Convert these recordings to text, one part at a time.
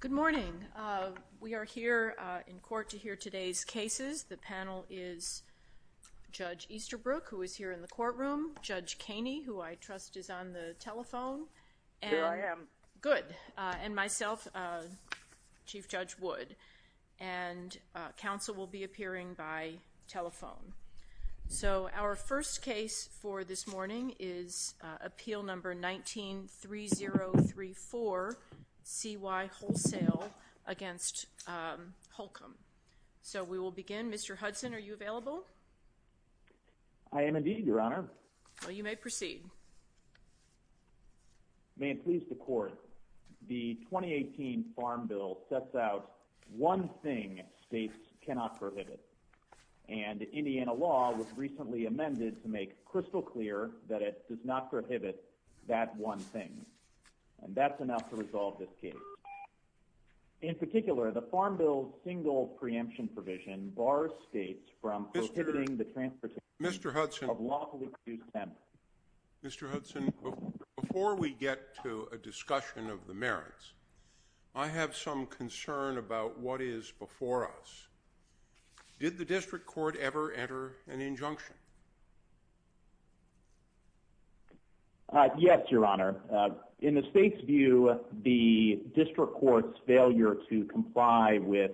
Good morning. We are here in court to hear today's cases. The panel is Judge Easterbrook, who is here in the courtroom, Judge Kaney, who I trust is on the telephone, and myself, Chief Judge Wood, and counsel will be appearing by telephone. So our first case for this morning is Appeal No. 193034, C.Y. Wholesale v. Holcomb. So we will begin. Mr. Hudson, are you available? I am indeed, Your Honor. Well, you may proceed. May it please the Court, the 2018 Farm Bill sets out one thing states cannot prohibit, and Indiana law was recently amended to make crystal clear that it does not prohibit that one thing. And that's enough to resolve this case. In particular, the Farm Bill's single preemption provision bars states from prohibiting the transportation of lawfully produced hemp. Mr. Hudson, Mr. Hudson, before we get to a discussion of the merits, I have some concern about what is before us. Did the district court ever enter an injunction? Yes, Your Honor. In the state's view, the district court's failure to comply with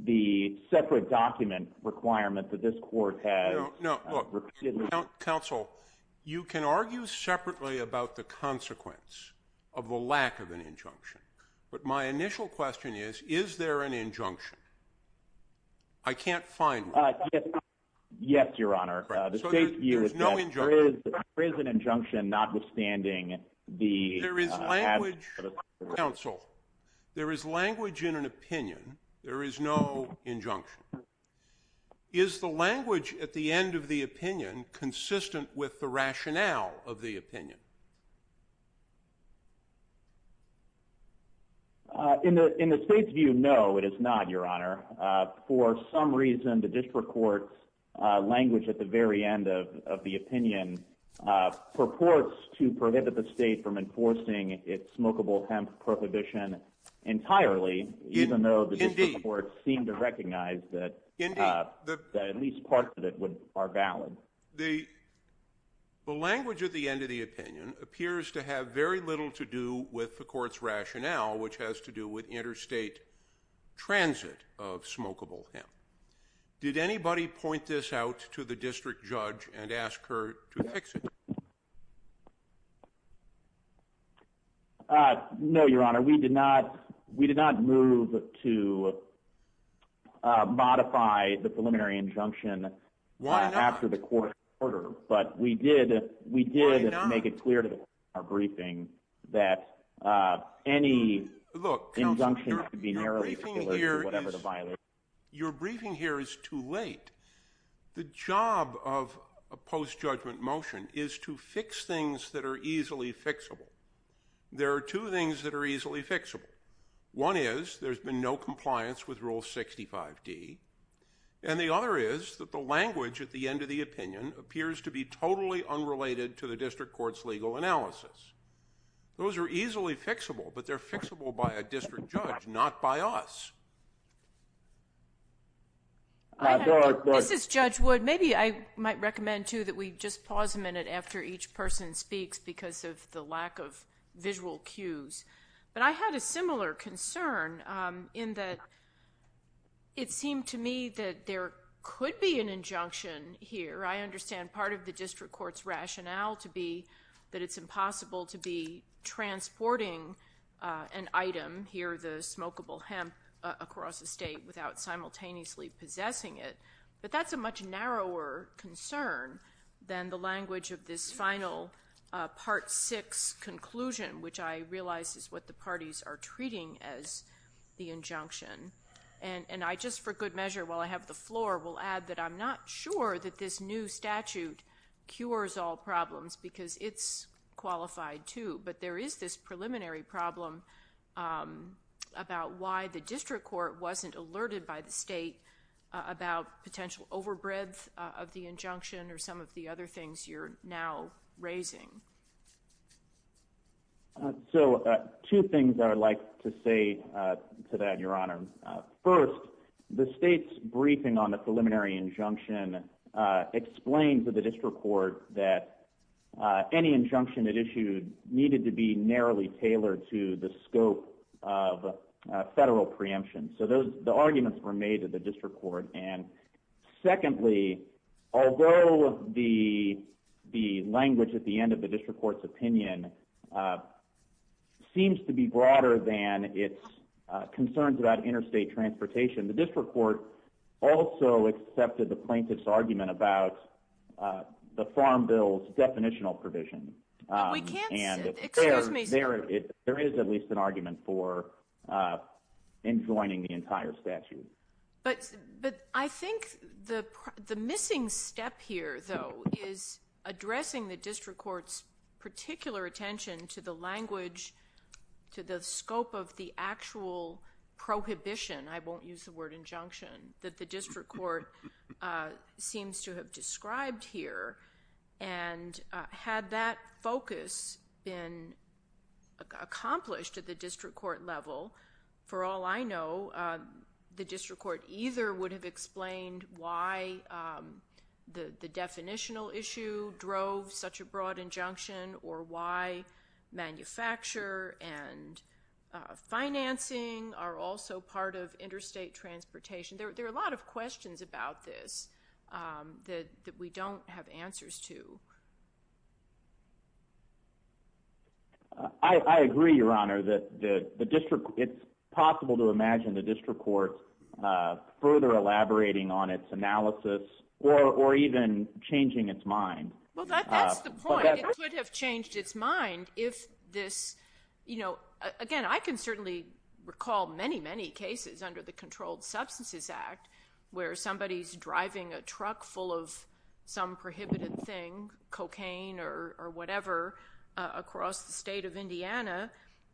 the separate document requirement that this court has repeatedly— No, no, look, counsel, you can argue separately about the consequence of the lack of an injunction, but my initial question is, is there an injunction? I can't find one. Yes, Your Honor. The state's view is that there is an injunction notwithstanding the— There is language—counsel, there is language in an opinion. There is no injunction. Is the language at the end of the opinion consistent with the rationale of the opinion? In the state's view, no, it is not, Your Honor. For some reason, the district court's language at the very end of the opinion purports to prohibit the state from enforcing its The language at the end of the opinion appears to have very little to do with the court's rationale, which has to do with interstate transit of smokable hemp. Did anybody point this out to the district judge and ask her to fix it? No, Your Honor. We did not move to modify the preliminary injunction after the court's order, but we did make it clear to the court in our briefing that any injunction could be narrowly— Your briefing here is too late. The job of a post-judgment motion is to fix things that are easily fixable. There are two things that are easily fixable. One is there's been no compliance with Rule 65d, and the other is that the language at the end of the opinion appears to be totally unrelated to the district court's legal analysis. Those are easily fixable, but they're fixable by a district judge, not by us. This is Judge Wood. Maybe I might recommend, too, that we just pause a minute after each person speaks because of the lack of visual cues, but I had a similar concern in that it seemed to me that there could be an injunction here. I understand part of the district court's item here, the smokable hemp across the state, without simultaneously possessing it, but that's a much narrower concern than the language of this final Part 6 conclusion, which I realize is what the parties are treating as the injunction, and I just, for good measure, while I have the floor, will add that I'm not sure that this new statute cures all problems because it's qualified, too, but there is this preliminary problem about why the district court wasn't alerted by the state about potential overbreadth of the injunction or some of the other things you're now raising. So, two things that I'd like to say to that, Your Honor. First, the state's briefing on any injunction it issued needed to be narrowly tailored to the scope of federal preemption, so the arguments were made at the district court, and secondly, although the language at the end of the district court's opinion seems to be broader than its concerns about interstate transportation, the district court also accepted the plaintiff's argument about the Farm Bill's definitional provision, and there is at least an argument for enjoining the entire statute. But I think the missing step here, though, is addressing the district court's particular attention to the language, to the scope of the actual prohibition, I won't use the word prescribed here, and had that focus been accomplished at the district court level, for all I know, the district court either would have explained why the definitional issue drove such a broad injunction or why manufacture and financing are also part of what we don't have answers to. I agree, Your Honor, that it's possible to imagine the district court further elaborating on its analysis or even changing its mind. Well, that's the point. It could have changed its mind if this, you know, again, I can certainly recall many, many cases under the Controlled Substances Act where somebody's driving a some prohibited thing, cocaine or whatever, across the state of Indiana,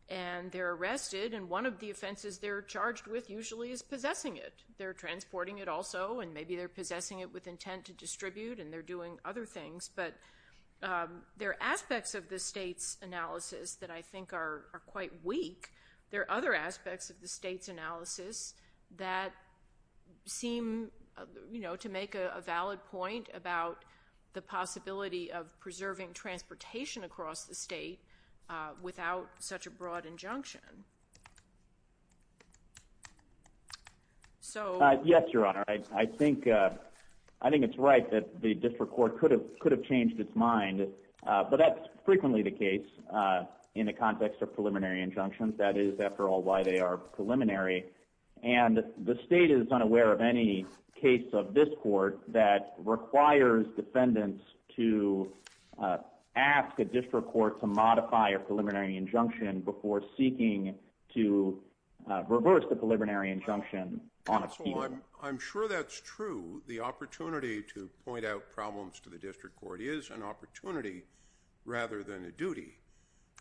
and they're arrested, and one of the offenses they're charged with usually is possessing it. They're transporting it also, and maybe they're possessing it with intent to distribute, and they're doing other things. But there are aspects of the state's analysis that I think are quite weak. There are other aspects of the state's analysis that seem, you know, to make a valid point about the possibility of preserving transportation across the state without such a broad injunction. Yes, Your Honor, I think it's right that the district court could have changed its mind, but that's frequently the case in the context of preliminary injunctions. That is, after all, why they are preliminary, and the state is unaware of any case of this court that requires defendants to ask a district court to modify a preliminary injunction before seeking to reverse the preliminary injunction on appeal. Counsel, I'm sure that's true. The opportunity to point out problems to the district court is an opportunity rather than a duty,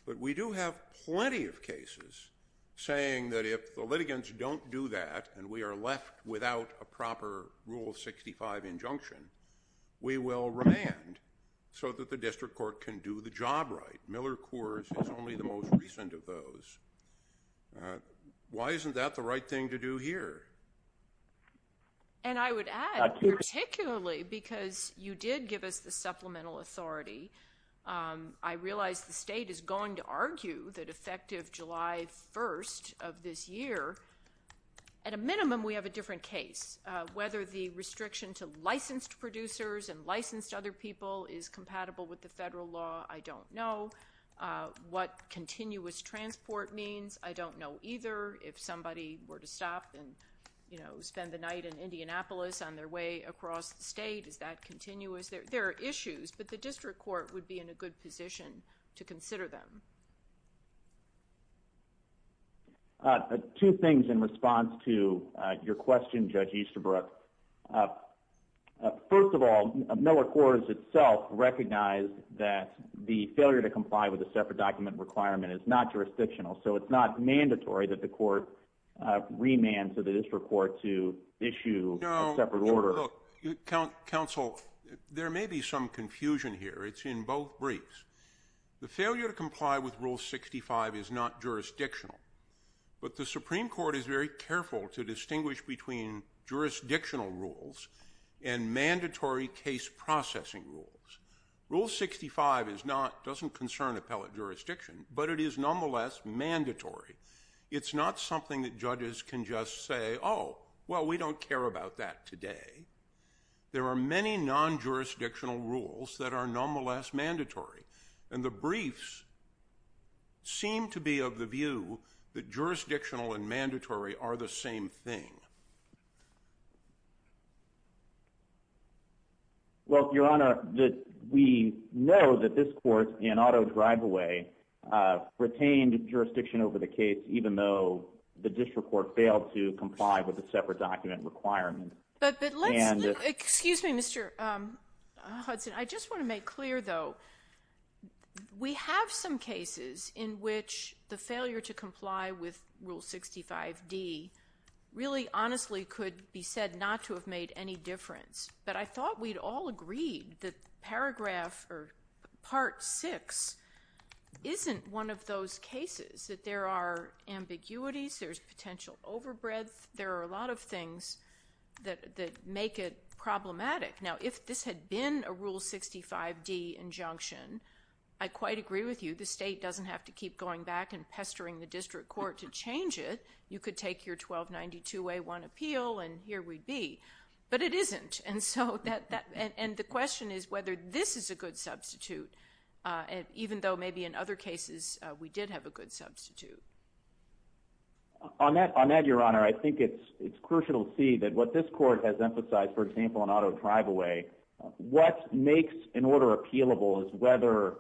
but we do have plenty of cases saying that if the litigants don't do that and we are left without a proper Rule 65 injunction, we will remand so that the district court can do the job right. Miller Coors is only the most recent of those. Why isn't that the right thing to do here? And I would add, particularly because you did give us the supplemental authority, I realize the state is going to argue that effective July 1st of this year, at a minimum we have a different case. Whether the restriction to licensed producers and licensed other people is compatible with the federal law, I don't know. What continuous transport means, I don't know either. If somebody were to stop and spend the night in Indianapolis on their way across the state, is that continuous? There are issues, but the district court would be in a good position to consider them. Two things in response to your question, Judge Easterbrook. First of all, Miller Coors itself recognized that the failure to comply with a separate document requirement is not jurisdictional, so it's not mandatory that the court remand to the district court to issue a separate order. Counsel, there may be some confusion here. It's in both briefs. The failure to comply with Rule 65 is not jurisdictional, but the Supreme Court is very careful to distinguish between jurisdictional rules and mandatory case processing rules. Rule 65 doesn't concern appellate jurisdiction, but it is nonetheless mandatory. It's not something that judges can just say, oh, well, we don't care about that today. There are many non-jurisdictional rules that are nonetheless mandatory, and the briefs seem to be of the view that jurisdictional and mandatory are the same thing. Well, Your Honor, we know that this court in auto driveway retained jurisdiction over the case, even though the district court failed to comply with a separate document requirement. Excuse me, Mr. Hudson. I just want to make clear, though, we have some cases in which the failure to comply with Rule 65D really honestly could be said not to have made any difference, but I thought we'd all agreed that Paragraph or Part 6 isn't one of those cases, that there are ambiguities, there's potential overbreadth, there are a lot of things that make it problematic. Now, if this had been a Rule 65D injunction, I quite agree with you. The state doesn't have to keep going back and pestering the district court to change it. You could take your 1292A1 appeal and here we'd be. But it isn't, and the question is whether this is a good substitute, even though maybe in other cases we did have a good substitute. On that, Your Honor, I think it's crucial to see that what this court has emphasized, for example, in auto driveway, what makes an order appealable is whether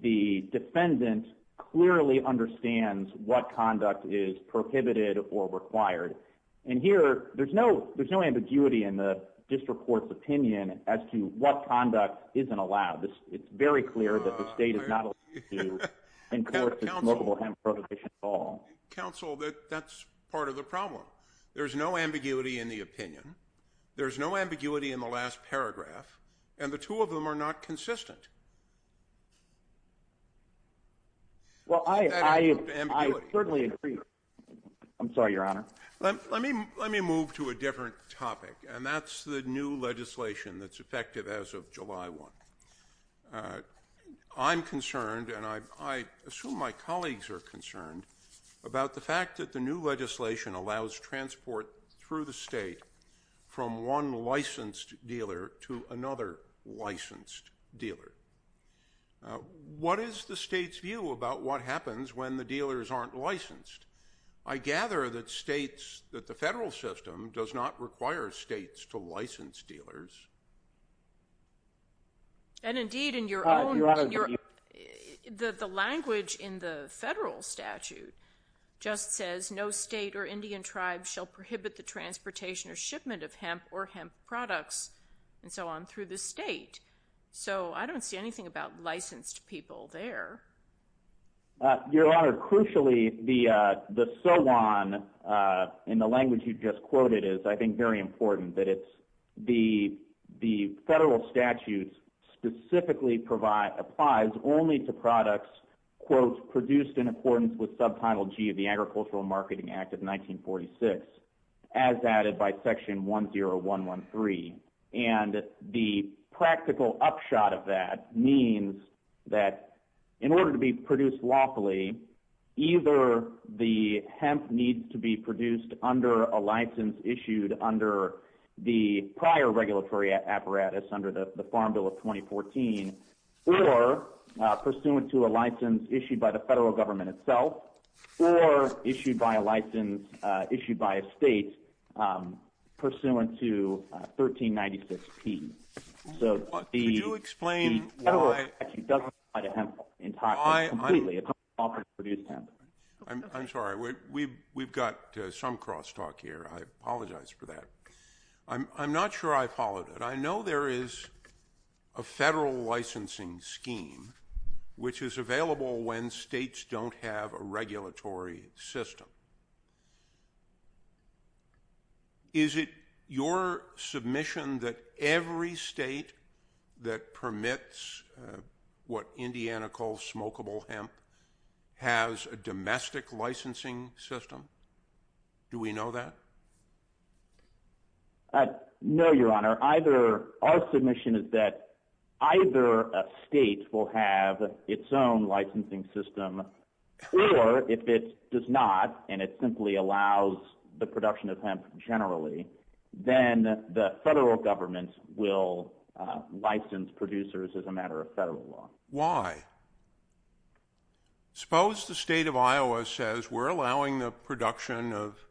the defendant clearly understands what conduct is prohibited or required. And here, there's no ambiguity in the district court's opinion as to what conduct isn't allowed. It's very clear that the state is not allowed to enforce this mobile hem prohibition at all. Counsel, that's part of the problem. There's no ambiguity in the opinion. There's no ambiguity in the last paragraph. And the two of them are not consistent. Well, I certainly agree. I'm sorry, Your Honor. Let me move to a different topic, and that's the new legislation that's effective as of July 1. I'm concerned, and I assume my colleagues are concerned, about the fact that the new legislation allows transport through the state from one licensed dealer to another licensed dealer. What is the state's view about what happens when the dealers aren't licensed? I gather that states, that the federal system does not require states to license dealers. And, indeed, in your own- Your Honor- The language in the federal statute just says, no state or Indian tribe shall prohibit the transportation or shipment of hemp or hemp products and so on through the state. So I don't see anything about licensed people there. Your Honor, crucially, the SOAN, in the language you just quoted, is, I think, very important, that the federal statute specifically applies only to products, quote, produced in accordance with Subtitle G of the Agricultural Marketing Act of 1946, as added by Section 10113. And the practical upshot of that means that in order to be produced lawfully, either the hemp needs to be produced under a license issued under the prior regulatory apparatus, under the Farm Bill of 2014, or pursuant to a license issued by the federal government itself, or issued by a license issued by a state pursuant to 1396P. So the- Could you explain why- The federal statute doesn't apply to hemp in Texas completely. Why- It doesn't offer to produce hemp. I'm sorry. We've got some crosstalk here. I apologize for that. I'm not sure I followed it. But I know there is a federal licensing scheme which is available when states don't have a regulatory system. Is it your submission that every state that permits what Indiana calls smokable hemp has a domestic licensing system? Do we know that? No, Your Honor. Our submission is that either a state will have its own licensing system, or if it does not and it simply allows the production of hemp generally, then the federal government will license producers as a matter of federal law. Why? Suppose the state of Iowa says we're allowing the production of,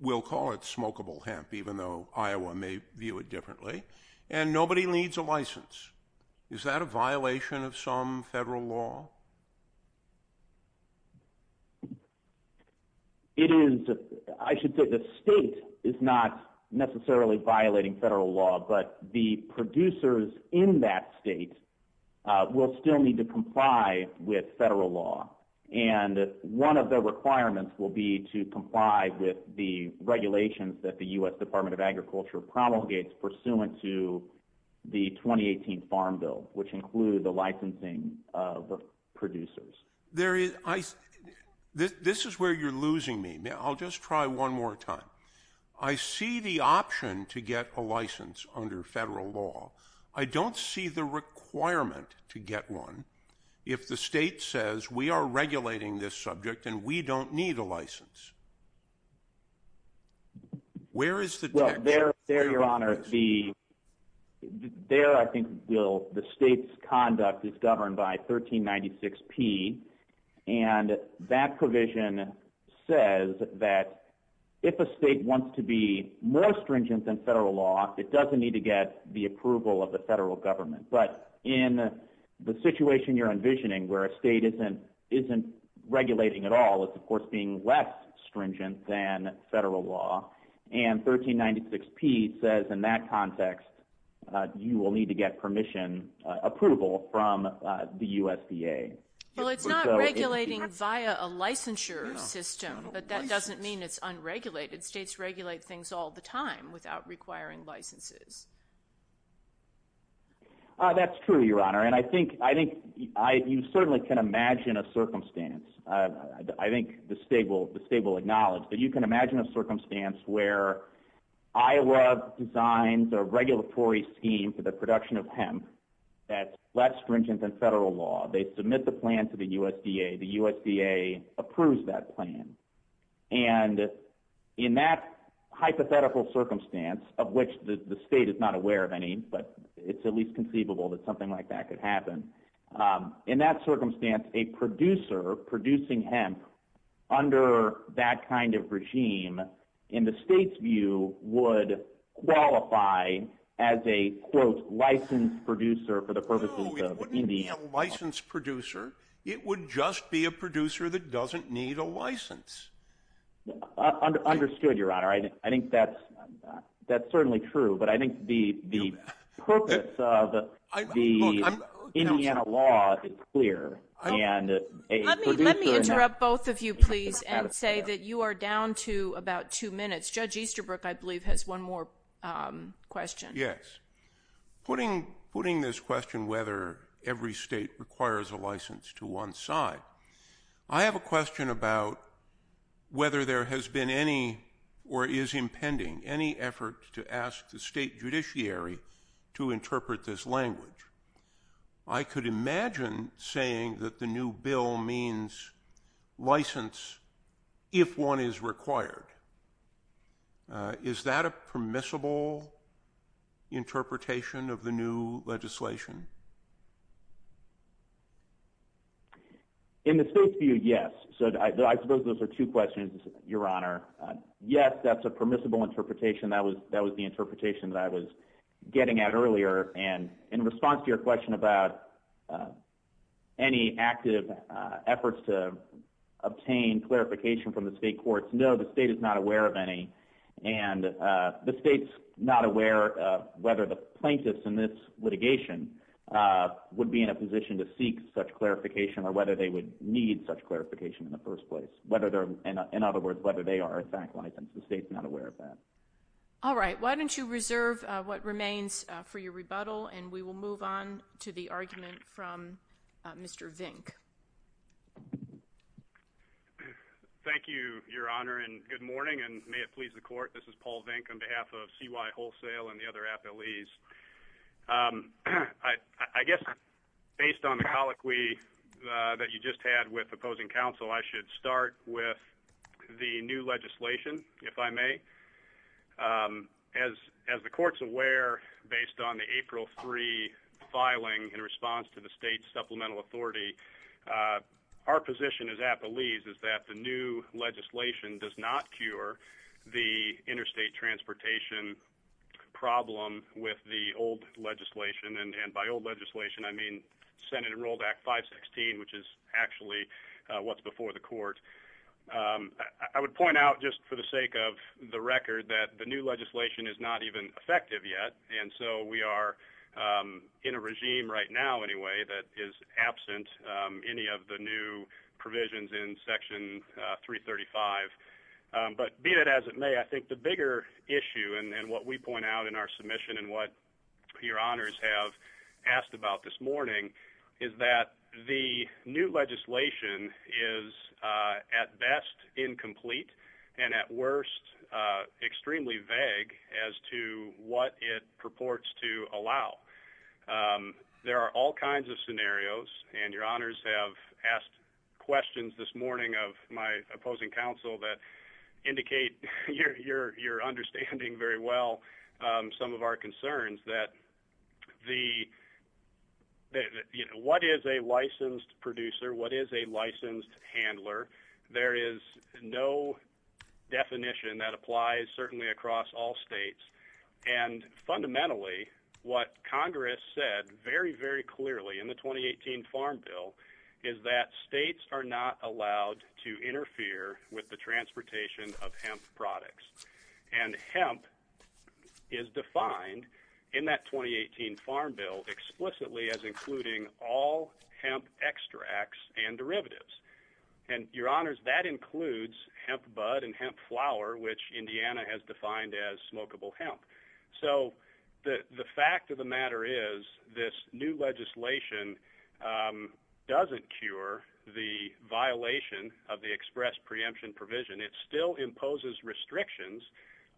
we'll call it smokable hemp, even though Iowa may view it differently, and nobody needs a license. Is that a violation of some federal law? It is. I should say the state is not necessarily violating federal law, but the producers in that state will still need to comply with federal law. And one of the requirements will be to comply with the regulations that the U.S. Department of Agriculture promulgates pursuant to the 2018 Farm Bill, which include the licensing of producers. This is where you're losing me. I'll just try one more time. I see the option to get a license under federal law. I don't see the requirement to get one if the state says we are regulating this subject and we don't need a license. Where is the text? Well, there, Your Honor, the state's conduct is governed by 1396P, and that provision says that if a state wants to be more stringent than federal law, it doesn't need to get the approval of the federal government. But in the situation you're envisioning where a state isn't regulating at all, it's, of course, being less stringent than federal law, and 1396P says in that context you will need to get permission approval from the USDA. Well, it's not regulating via a licensure system, but that doesn't mean it's unregulated. States regulate things all the time without requiring licenses. That's true, Your Honor, and I think you certainly can imagine a circumstance. I think the state will acknowledge, but you can imagine a circumstance where Iowa designs a regulatory scheme for the production of hemp that's less stringent than federal law. They submit the plan to the USDA. The USDA approves that plan, and in that hypothetical circumstance of which the state is not aware of any, but it's at least conceivable that something like that could happen, in that circumstance, a producer producing hemp under that kind of regime, in the state's view, would qualify as a, quote, licensed producer for the purposes of Indy. No, it wouldn't be a licensed producer. It would just be a producer that doesn't need a license. Understood, Your Honor. I think that's certainly true, but I think the purpose of the Indiana law is clear. Let me interrupt both of you, please, and say that you are down to about two minutes. Judge Easterbrook, I believe, has one more question. Yes. Putting this question whether every state requires a license to one side, I have a question about whether there has been any or is impending any effort to ask the state judiciary to interpret this language. I could imagine saying that the new bill means license if one is required. Is that a permissible interpretation of the new legislation? In the state's view, yes. I suppose those are two questions, Your Honor. Yes, that's a permissible interpretation. That was the interpretation that I was getting at earlier. In response to your question about any active efforts to obtain clarification from the state courts, no, the state is not aware of any, and the state's not aware whether the plaintiffs in this litigation would be in a position to seek such clarification or whether they would need such clarification in the first place. In other words, whether they are a bank license. The state's not aware of that. All right. Why don't you reserve what remains for your rebuttal, and we will move on to the argument from Mr. Vink. Thank you, Your Honor, and good morning, and may it please the court. This is Paul Vink on behalf of CY Wholesale and the other appellees. I guess based on the colloquy that you just had with opposing counsel, I should start with the new legislation, if I may. As the court's aware, based on the April 3 filing in response to the state's supplemental authority, our position as appellees is that the new legislation does not cure the interstate transportation problem with the old legislation, and by old legislation I mean Senate Enrolled Act 516, which is actually what's before the court. I would point out just for the sake of the record that the new legislation is not even effective yet, and so we are in a regime right now anyway that is absent any of the new provisions in Section 335. But be it as it may, I think the bigger issue, and what we point out in our submission and what Your Honors have asked about this morning, is that the new legislation is at best incomplete and at worst extremely vague as to what it purports to allow. There are all kinds of scenarios, and Your Honors have asked questions this morning of my opposing counsel that indicate your understanding very well some of our concerns that what is a licensed producer, what is a licensed handler, there is no definition that applies certainly across all states, and fundamentally what Congress said very, very clearly in the 2018 Farm Bill is that states are not allowed to interfere with the transportation of hemp products. And hemp is defined in that 2018 Farm Bill explicitly as including all hemp extracts and derivatives. And Your Honors, that includes hemp bud and hemp flower, which Indiana has defined as smokable hemp. So the fact of the matter is this new legislation doesn't cure the violation of the express preemption provision. It still imposes restrictions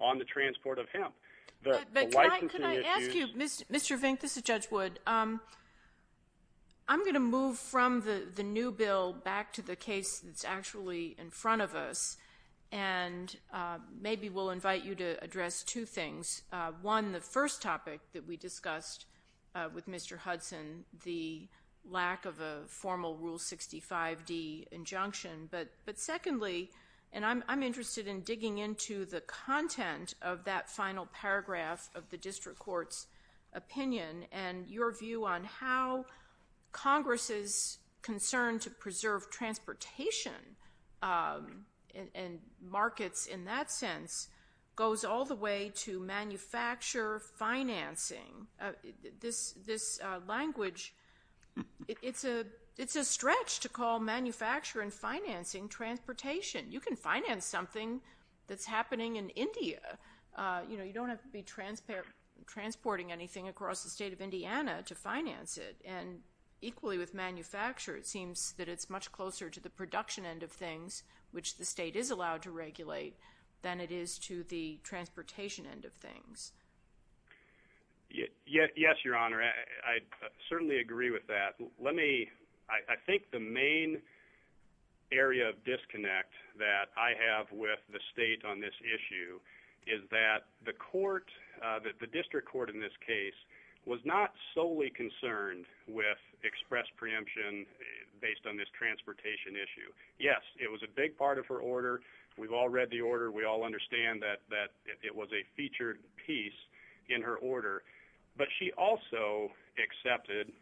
on the transport of hemp. But can I ask you, Mr. Vink, this is Judge Wood. I'm going to move from the new bill back to the case that's actually in front of us, and maybe we'll invite you to address two things. One, the first topic that we discussed with Mr. Hudson, the lack of a formal Rule 65d injunction. But secondly, and I'm interested in digging into the content of that final paragraph of the district court's opinion and your view on how Congress's concern to preserve transportation and markets in that sense goes all the way to manufacture financing. This language, it's a stretch to call manufacture and financing transportation. You can finance something that's happening in India. You don't have to be transporting anything across the state of Indiana to finance it. And equally with manufacture, it seems that it's much closer to the production end of things, which the state is allowed to regulate, than it is to the transportation end of things. Yes, Your Honor. I certainly agree with that. I think the main area of disconnect that I have with the state on this issue is that the court, the district court in this case, was not solely concerned with express preemption based on this transportation issue. Yes, it was a big part of her order. We've all read the order. We all understand that it was a featured piece in her order. But she also accepted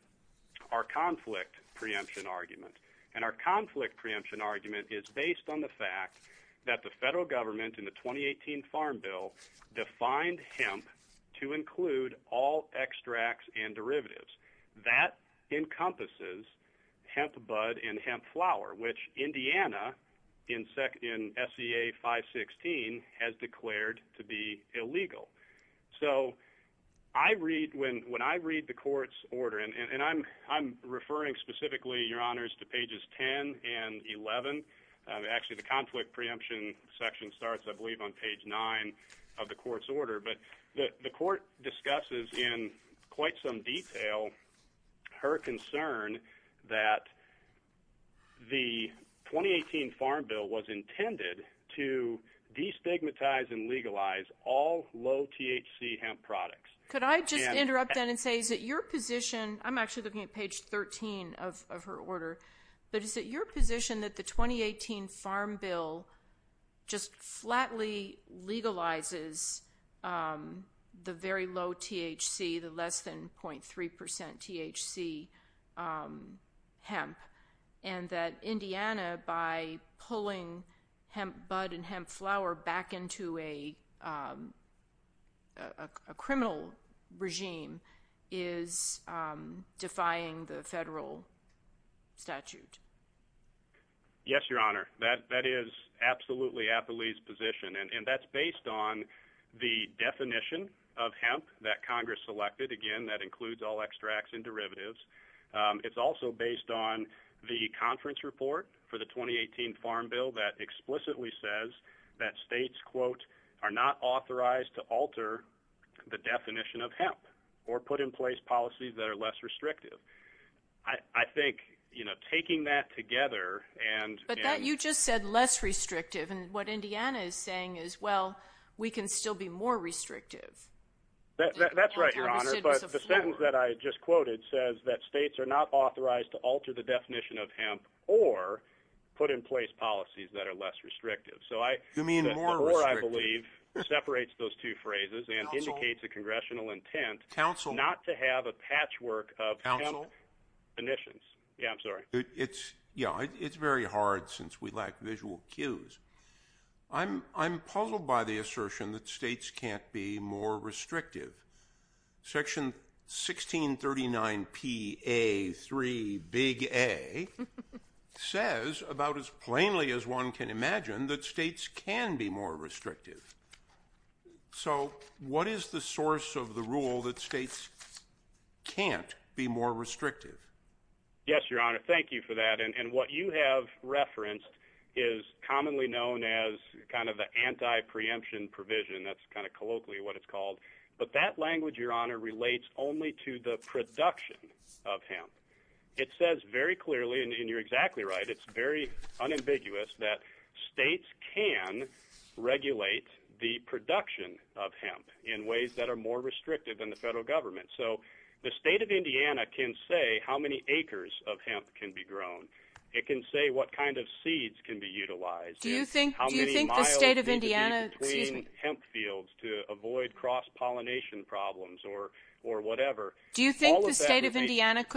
our conflict preemption argument. And our conflict preemption argument is based on the fact that the federal government, in the 2018 Farm Bill, defined hemp to include all extracts and derivatives. That encompasses hemp bud and hemp flower, which Indiana, in SEA 516, has declared to be illegal. So when I read the court's order, and I'm referring specifically, Your Honors, to pages 10 and 11. Actually, the conflict preemption section starts, I believe, on page 9 of the court's order. But the court discusses in quite some detail her concern that the 2018 Farm Bill was intended to destigmatize and legalize all low-THC hemp products. Could I just interrupt then and say, is it your position? I'm actually looking at page 13 of her order. But is it your position that the 2018 Farm Bill just flatly legalizes the very low THC, the less than 0.3% THC hemp, and that Indiana, by pulling hemp bud and hemp flower back into a criminal regime, is defying the federal statute? Yes, Your Honor. That is absolutely Applee's position. And that's based on the definition of hemp that Congress selected. Again, that includes all extracts and derivatives. It's also based on the conference report for the 2018 Farm Bill that explicitly says that states, quote, are not authorized to alter the definition of hemp or put in place policies that are less restrictive. I think, you know, taking that together and ‑‑ But you just said less restrictive. And what Indiana is saying is, well, we can still be more restrictive. That's right, Your Honor. But the sentence that I just quoted says that states are not authorized to alter the definition of hemp or put in place policies that are less restrictive. You mean more restrictive. So the floor, I believe, separates those two phrases and indicates a congressional intent not to have a patchwork of hemp emissions. Yeah, I'm sorry. Yeah, it's very hard since we lack visual cues. I'm puzzled by the assertion that states can't be more restrictive. Section 1639PA3A says about as plainly as one can imagine that states can be more restrictive. So what is the source of the rule that states can't be more restrictive? Yes, Your Honor. Thank you for that. And what you have referenced is commonly known as kind of the anti‑preemption provision. That's kind of colloquially what it's called. But that language, Your Honor, relates only to the production of hemp. It says very clearly, and you're exactly right, it's very unambiguous that states can regulate the production of hemp in ways that are more restrictive than the federal government. So the state of Indiana can say how many acres of hemp can be grown. It can say what kind of seeds can be utilized. Do you think the state of Indiana could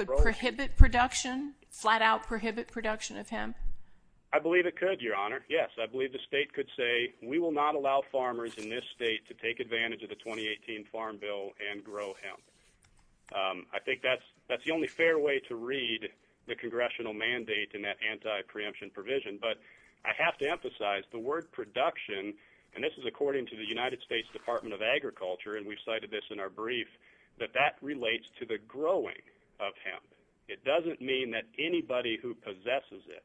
prohibit production, flat‑out prohibit production of hemp? I believe it could, Your Honor, yes. I believe the state could say we will not allow farmers in this state to take advantage of the 2018 Farm Bill and grow hemp. I think that's the only fair way to read the congressional mandate in that anti‑preemption provision. But I have to emphasize the word production, and this is according to the United States Department of Agriculture, and we've cited this in our brief, that that relates to the growing of hemp. It doesn't mean that anybody who possesses it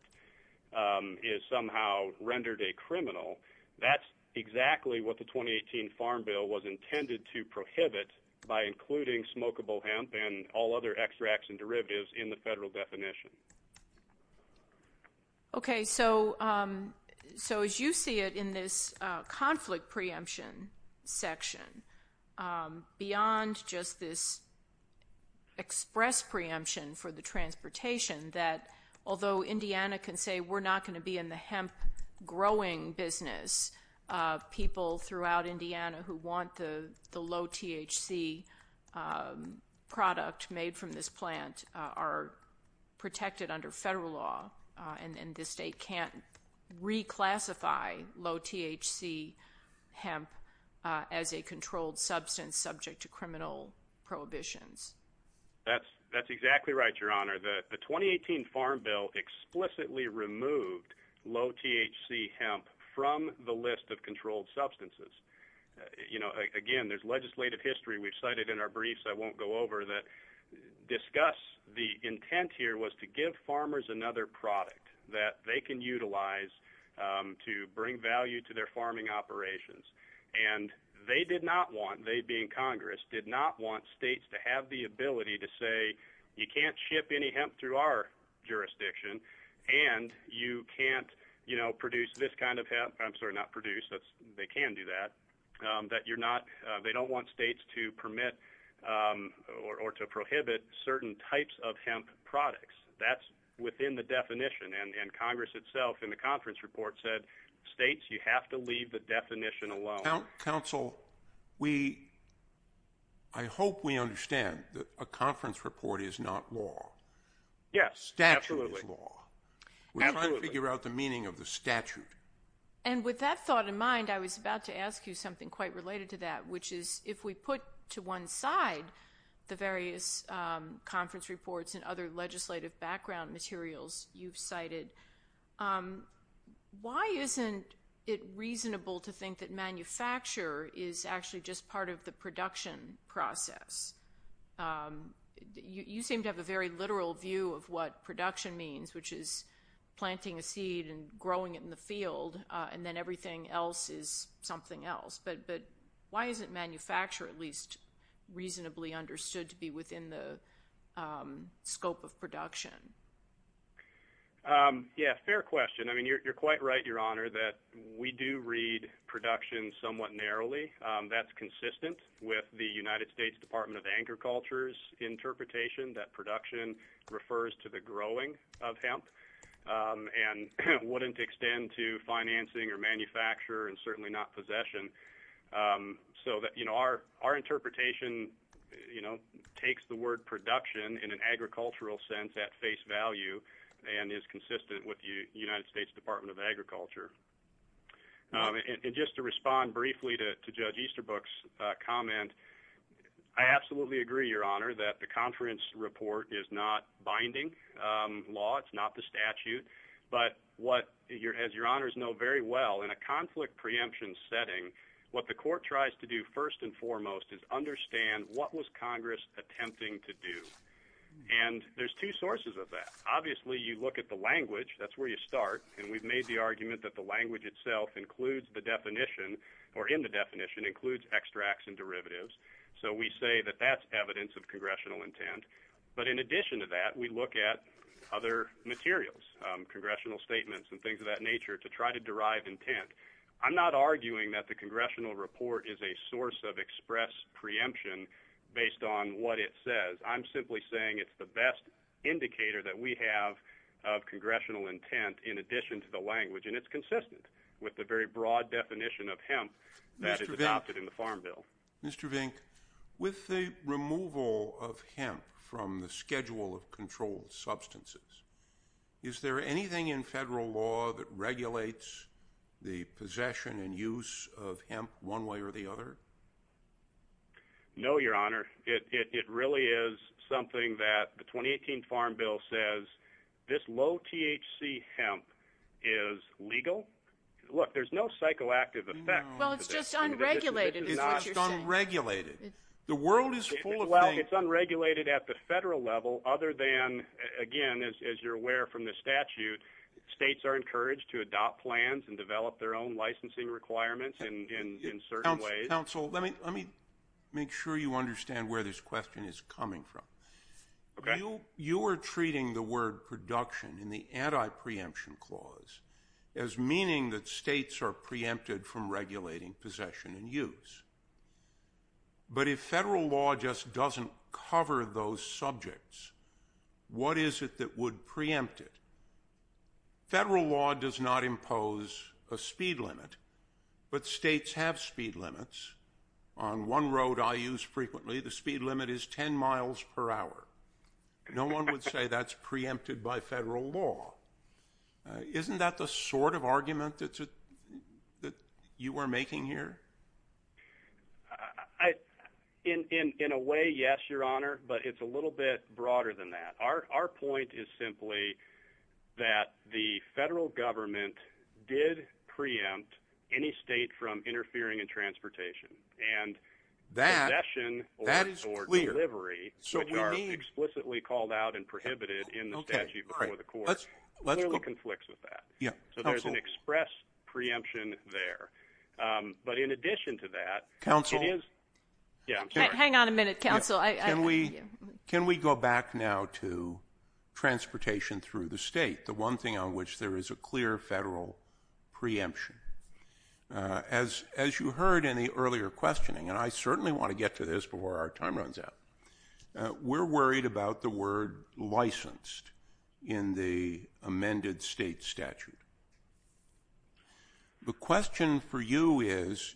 is somehow rendered a criminal. That's exactly what the 2018 Farm Bill was intended to prohibit by including smokable hemp and all other extracts and derivatives in the federal definition. Okay. So as you see it in this conflict preemption section, beyond just this express preemption for the transportation, that although Indiana can say we're not going to be in the hemp growing business, people throughout Indiana who want the low THC product made from this plant are protected under federal law, and the state can't reclassify low THC hemp as a controlled substance subject to criminal prohibitions. That's exactly right, Your Honor. The 2018 Farm Bill explicitly removed low THC hemp from the list of controlled substances. You know, again, there's legislative history we've cited in our briefs I won't go over that discuss the intent here was to give farmers another product that they can utilize to bring value to their farming operations. And they did not want, they being Congress, did not want states to have the ability to say you can't ship any hemp through our jurisdiction, and you can't, you know, produce this kind of hemp. I'm sorry, not produce. They can do that. That you're not, they don't want states to permit or to prohibit certain types of hemp products. That's within the definition. And Congress itself in the conference report said states, you have to leave the definition alone. Counsel, we, I hope we understand that a conference report is not law. Yes, absolutely. Statute is law. Absolutely. We're trying to figure out the meaning of the statute. And with that thought in mind, I was about to ask you something quite related to that, which is if we put to one side the various conference reports and other legislative background materials you've cited, why isn't it reasonable to think that manufacture is actually just part of the production process? You seem to have a very literal view of what production means, which is planting a seed and growing it in the field, and then everything else is something else. But why isn't manufacture at least reasonably understood to be within the scope of production? Yeah, fair question. I mean, you're quite right, Your Honor, that we do read production somewhat narrowly. That's consistent with the United States Department of Agriculture's interpretation that production refers to the growing of hemp and wouldn't extend to financing or manufacture and certainly not possession. So, you know, our interpretation, you know, takes the word production in an agricultural sense at face value and is consistent with the United States Department of Agriculture. And just to respond briefly to Judge Easterbrook's comment, I absolutely agree, Your Honor, that the conference report is not binding law. It's not the statute. But as Your Honors know very well, in a conflict preemption setting, what the court tries to do first and foremost is understand what was Congress attempting to do. And there's two sources of that. Obviously, you look at the language. That's where you start. And we've made the argument that the language itself includes the definition or in the definition includes extracts and derivatives. So we say that that's evidence of congressional intent. But in addition to that, we look at other materials, congressional statements and things of that nature to try to derive intent. I'm not arguing that the congressional report is a source of express preemption based on what it says. I'm simply saying it's the best indicator that we have of congressional intent in addition to the language. And it's consistent with the very broad definition of hemp that is adopted in the Farm Bill. Mr. Vink, with the removal of hemp from the schedule of controlled substances, is there anything in federal law that regulates the possession and use of hemp one way or the other? No, Your Honor. It really is something that the 2018 Farm Bill says this low THC hemp is legal. Look, there's no psychoactive effect. Well, it's just unregulated is what you're saying. It's just unregulated. The world is full of things. Well, it's unregulated at the federal level other than, again, as you're aware from the statute, states are encouraged to adopt plans and develop their own licensing requirements in certain ways. Counsel, let me make sure you understand where this question is coming from. Okay. You are treating the word production in the anti-preemption clause as meaning that states are preempted from regulating possession and use. But if federal law just doesn't cover those subjects, what is it that would preempt it? Federal law does not impose a speed limit, but states have speed limits. On one road I use frequently, the speed limit is 10 miles per hour. No one would say that's preempted by federal law. Isn't that the sort of argument that you are making here? In a way, yes, Your Honor, but it's a little bit broader than that. Our point is simply that the federal government did preempt any state from interfering in transportation. And possession or delivery, which are explicitly called out and prohibited in the statute before the court, clearly conflicts with that. So there's an express preemption there. But in addition to that, it is – Hang on a minute, counsel. Can we go back now to transportation through the state, the one thing on which there is a clear federal preemption? As you heard in the earlier questioning, and I certainly want to get to this before our time runs out, we're worried about the word licensed in the amended state statute. The question for you is,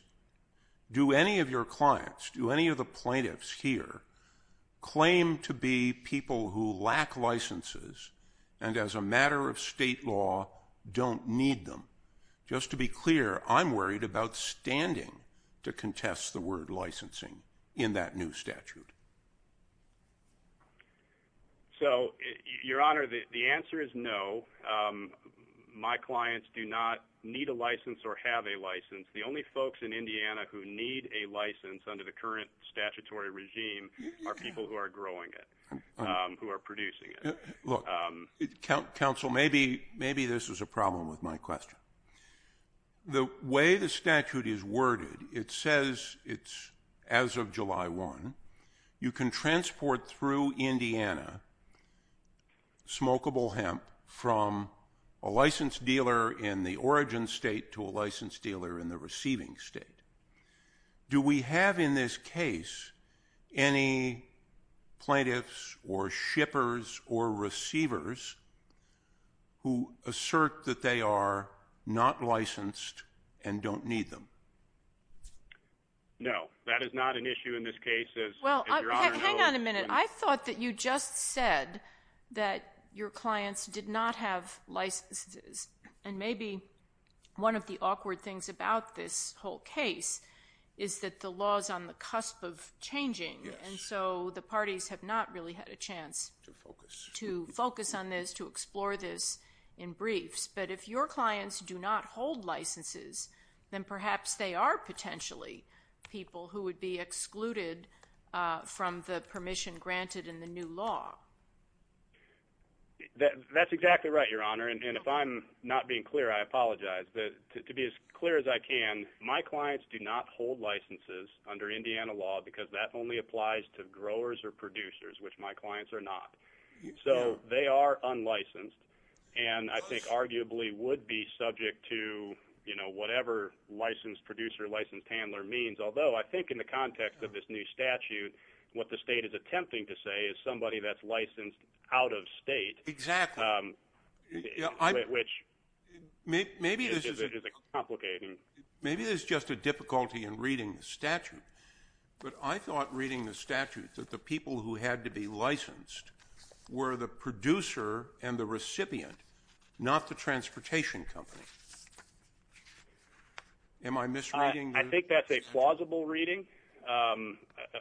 do any of your clients, do any of the plaintiffs here, claim to be people who lack licenses and as a matter of state law don't need them? Just to be clear, I'm worried about standing to contest the word licensing in that new statute. So, Your Honor, the answer is no. My clients do not need a license or have a license. The only folks in Indiana who need a license under the current statutory regime are people who are growing it, who are producing it. Look, counsel, maybe this is a problem with my question. The way the statute is worded, it says it's as of July 1. You can transport through Indiana smokable hemp from a licensed dealer in the origin state to a licensed dealer in the receiving state. Do we have in this case any plaintiffs or shippers or receivers who assert that they are not licensed and don't need them? No, that is not an issue in this case. Well, hang on a minute. I thought that you just said that your clients did not have licenses. And maybe one of the awkward things about this whole case is that the law is on the cusp of changing. And so the parties have not really had a chance to focus on this, to explore this in briefs. But if your clients do not hold licenses, then perhaps they are potentially people who would be excluded from the permission granted in the new law. That's exactly right, Your Honor. And if I'm not being clear, I apologize. To be as clear as I can, my clients do not hold licenses under Indiana law because that only applies to growers or producers, which my clients are not. So they are unlicensed. And I think arguably would be subject to, you know, whatever licensed producer, licensed handler means. Although I think in the context of this new statute, what the state is attempting to say is somebody that's licensed out of state. Exactly. Which is a bit complicated. Maybe there's just a difficulty in reading the statute. But I thought reading the statute that the people who had to be licensed were the producer and the recipient, not the transportation company. Am I misreading? I think that's a plausible reading.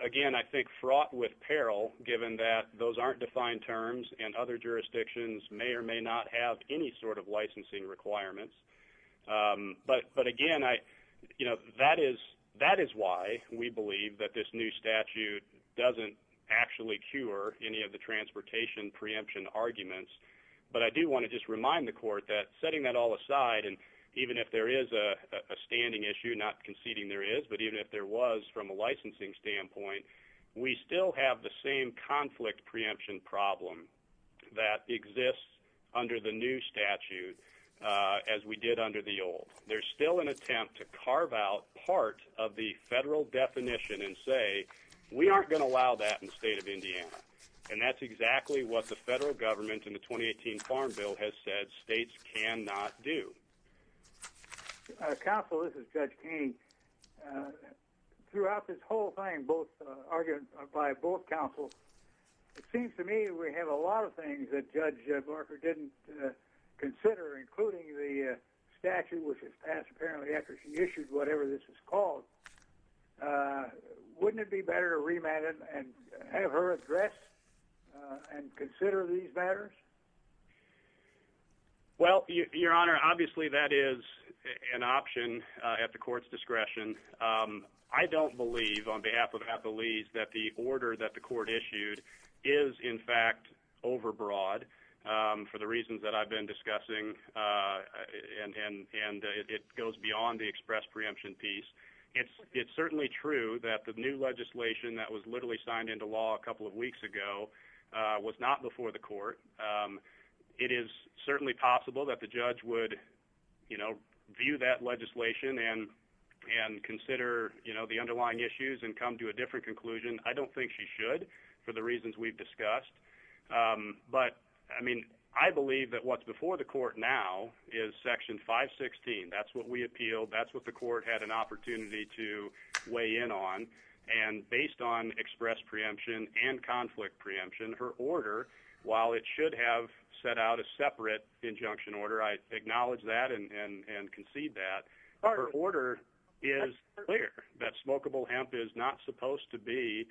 Again, I think fraught with peril given that those aren't defined terms and other jurisdictions may or may not have any sort of licensing requirements. But, again, you know, that is why we believe that this new statute doesn't actually cure any of the transportation preemption arguments. But I do want to just remind the court that setting that all aside and even if there is a standing issue, not conceding there is, but even if there was from a licensing standpoint, we still have the same conflict preemption problem that exists under the new statute as we did under the old. There's still an attempt to carve out part of the federal definition and say, we aren't going to allow that in the state of Indiana. And that's exactly what the federal government in the 2018 Farm Bill has said states cannot do. Counsel, this is Judge Keeney. Throughout this whole thing both argued by both counsels, it seems to me we have a lot of things that Judge Barker didn't consider, including the statute which was passed apparently after she issued whatever this is called. Wouldn't it be better to remand it and have her address and consider these matters? Well, Your Honor, obviously that is an option at the court's discretion. I don't believe on behalf of Appalese that the order that the court issued is in fact overbroad for the reasons that I've been discussing, and it goes beyond the express preemption piece. It's certainly true that the new legislation that was literally signed into law a couple of weeks ago was not before the court. It is certainly possible that the judge would, you know, consider the underlying issues and come to a different conclusion. I don't think she should for the reasons we've discussed. But, I mean, I believe that what's before the court now is Section 516. That's what we appealed. That's what the court had an opportunity to weigh in on. And based on express preemption and conflict preemption, her order, while it should have set out a separate injunction order, I acknowledge that and concede that, her order is clear that smokable hemp is not supposed to be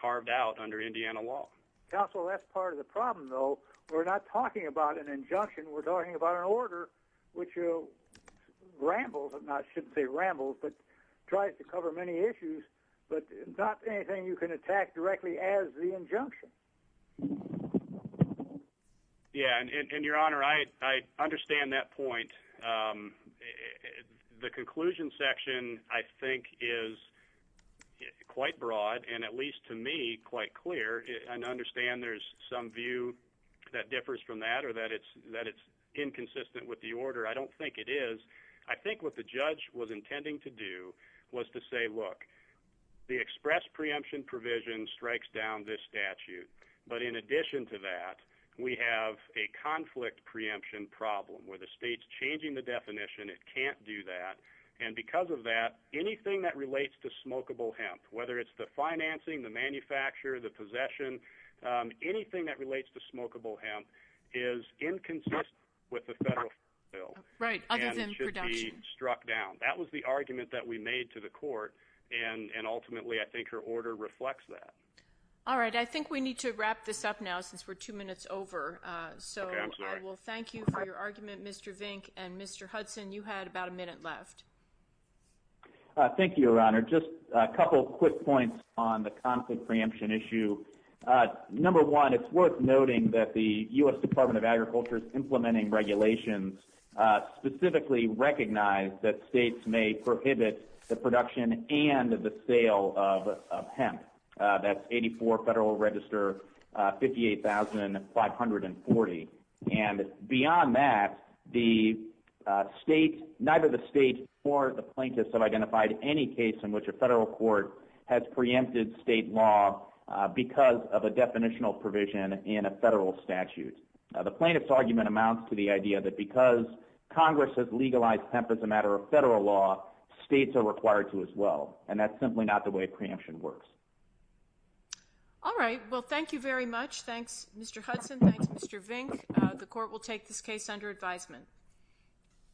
carved out under Indiana law. Counsel, that's part of the problem, though. We're not talking about an injunction. We're talking about an order which rambles, not should say rambles, but tries to cover many issues, but not anything you can attack directly as the injunction. Yeah, and Your Honor, I understand that point. The conclusion section, I think, is quite broad and, at least to me, quite clear. And I understand there's some view that differs from that or that it's inconsistent with the order. I don't think it is. I think what the judge was intending to do was to say, look, the express preemption provision strikes down this statute. But in addition to that, we have a conflict preemption problem where the state's changing the definition. It can't do that. And because of that, anything that relates to smokable hemp, whether it's the financing, the manufacture, the possession, anything that relates to smokable hemp is inconsistent with the federal bill. Right, other than production. And it should be struck down. That was the argument that we made to the court, and ultimately I think her order reflects that. All right. I think we need to wrap this up now since we're two minutes over. So I will thank you for your argument, Mr. Vink. And, Mr. Hudson, you had about a minute left. Thank you, Your Honor. Just a couple quick points on the conflict preemption issue. Number one, it's worth noting that the U.S. Department of Agriculture's implementing regulations specifically recognize that states may prohibit the production and the sale of hemp. That's 84 Federal Register 58,540. And beyond that, the state, neither the state nor the plaintiffs have identified any case in which a federal court has preempted state law because of a definitional provision in a federal statute. The plaintiff's argument amounts to the idea that because Congress has legalized hemp as a matter of federal law, states are required to as well. And that's simply not the way preemption works. All right. Well, thank you very much. Thanks, Mr. Hudson. Thanks, Mr. Vink. The court will take this case under advisement.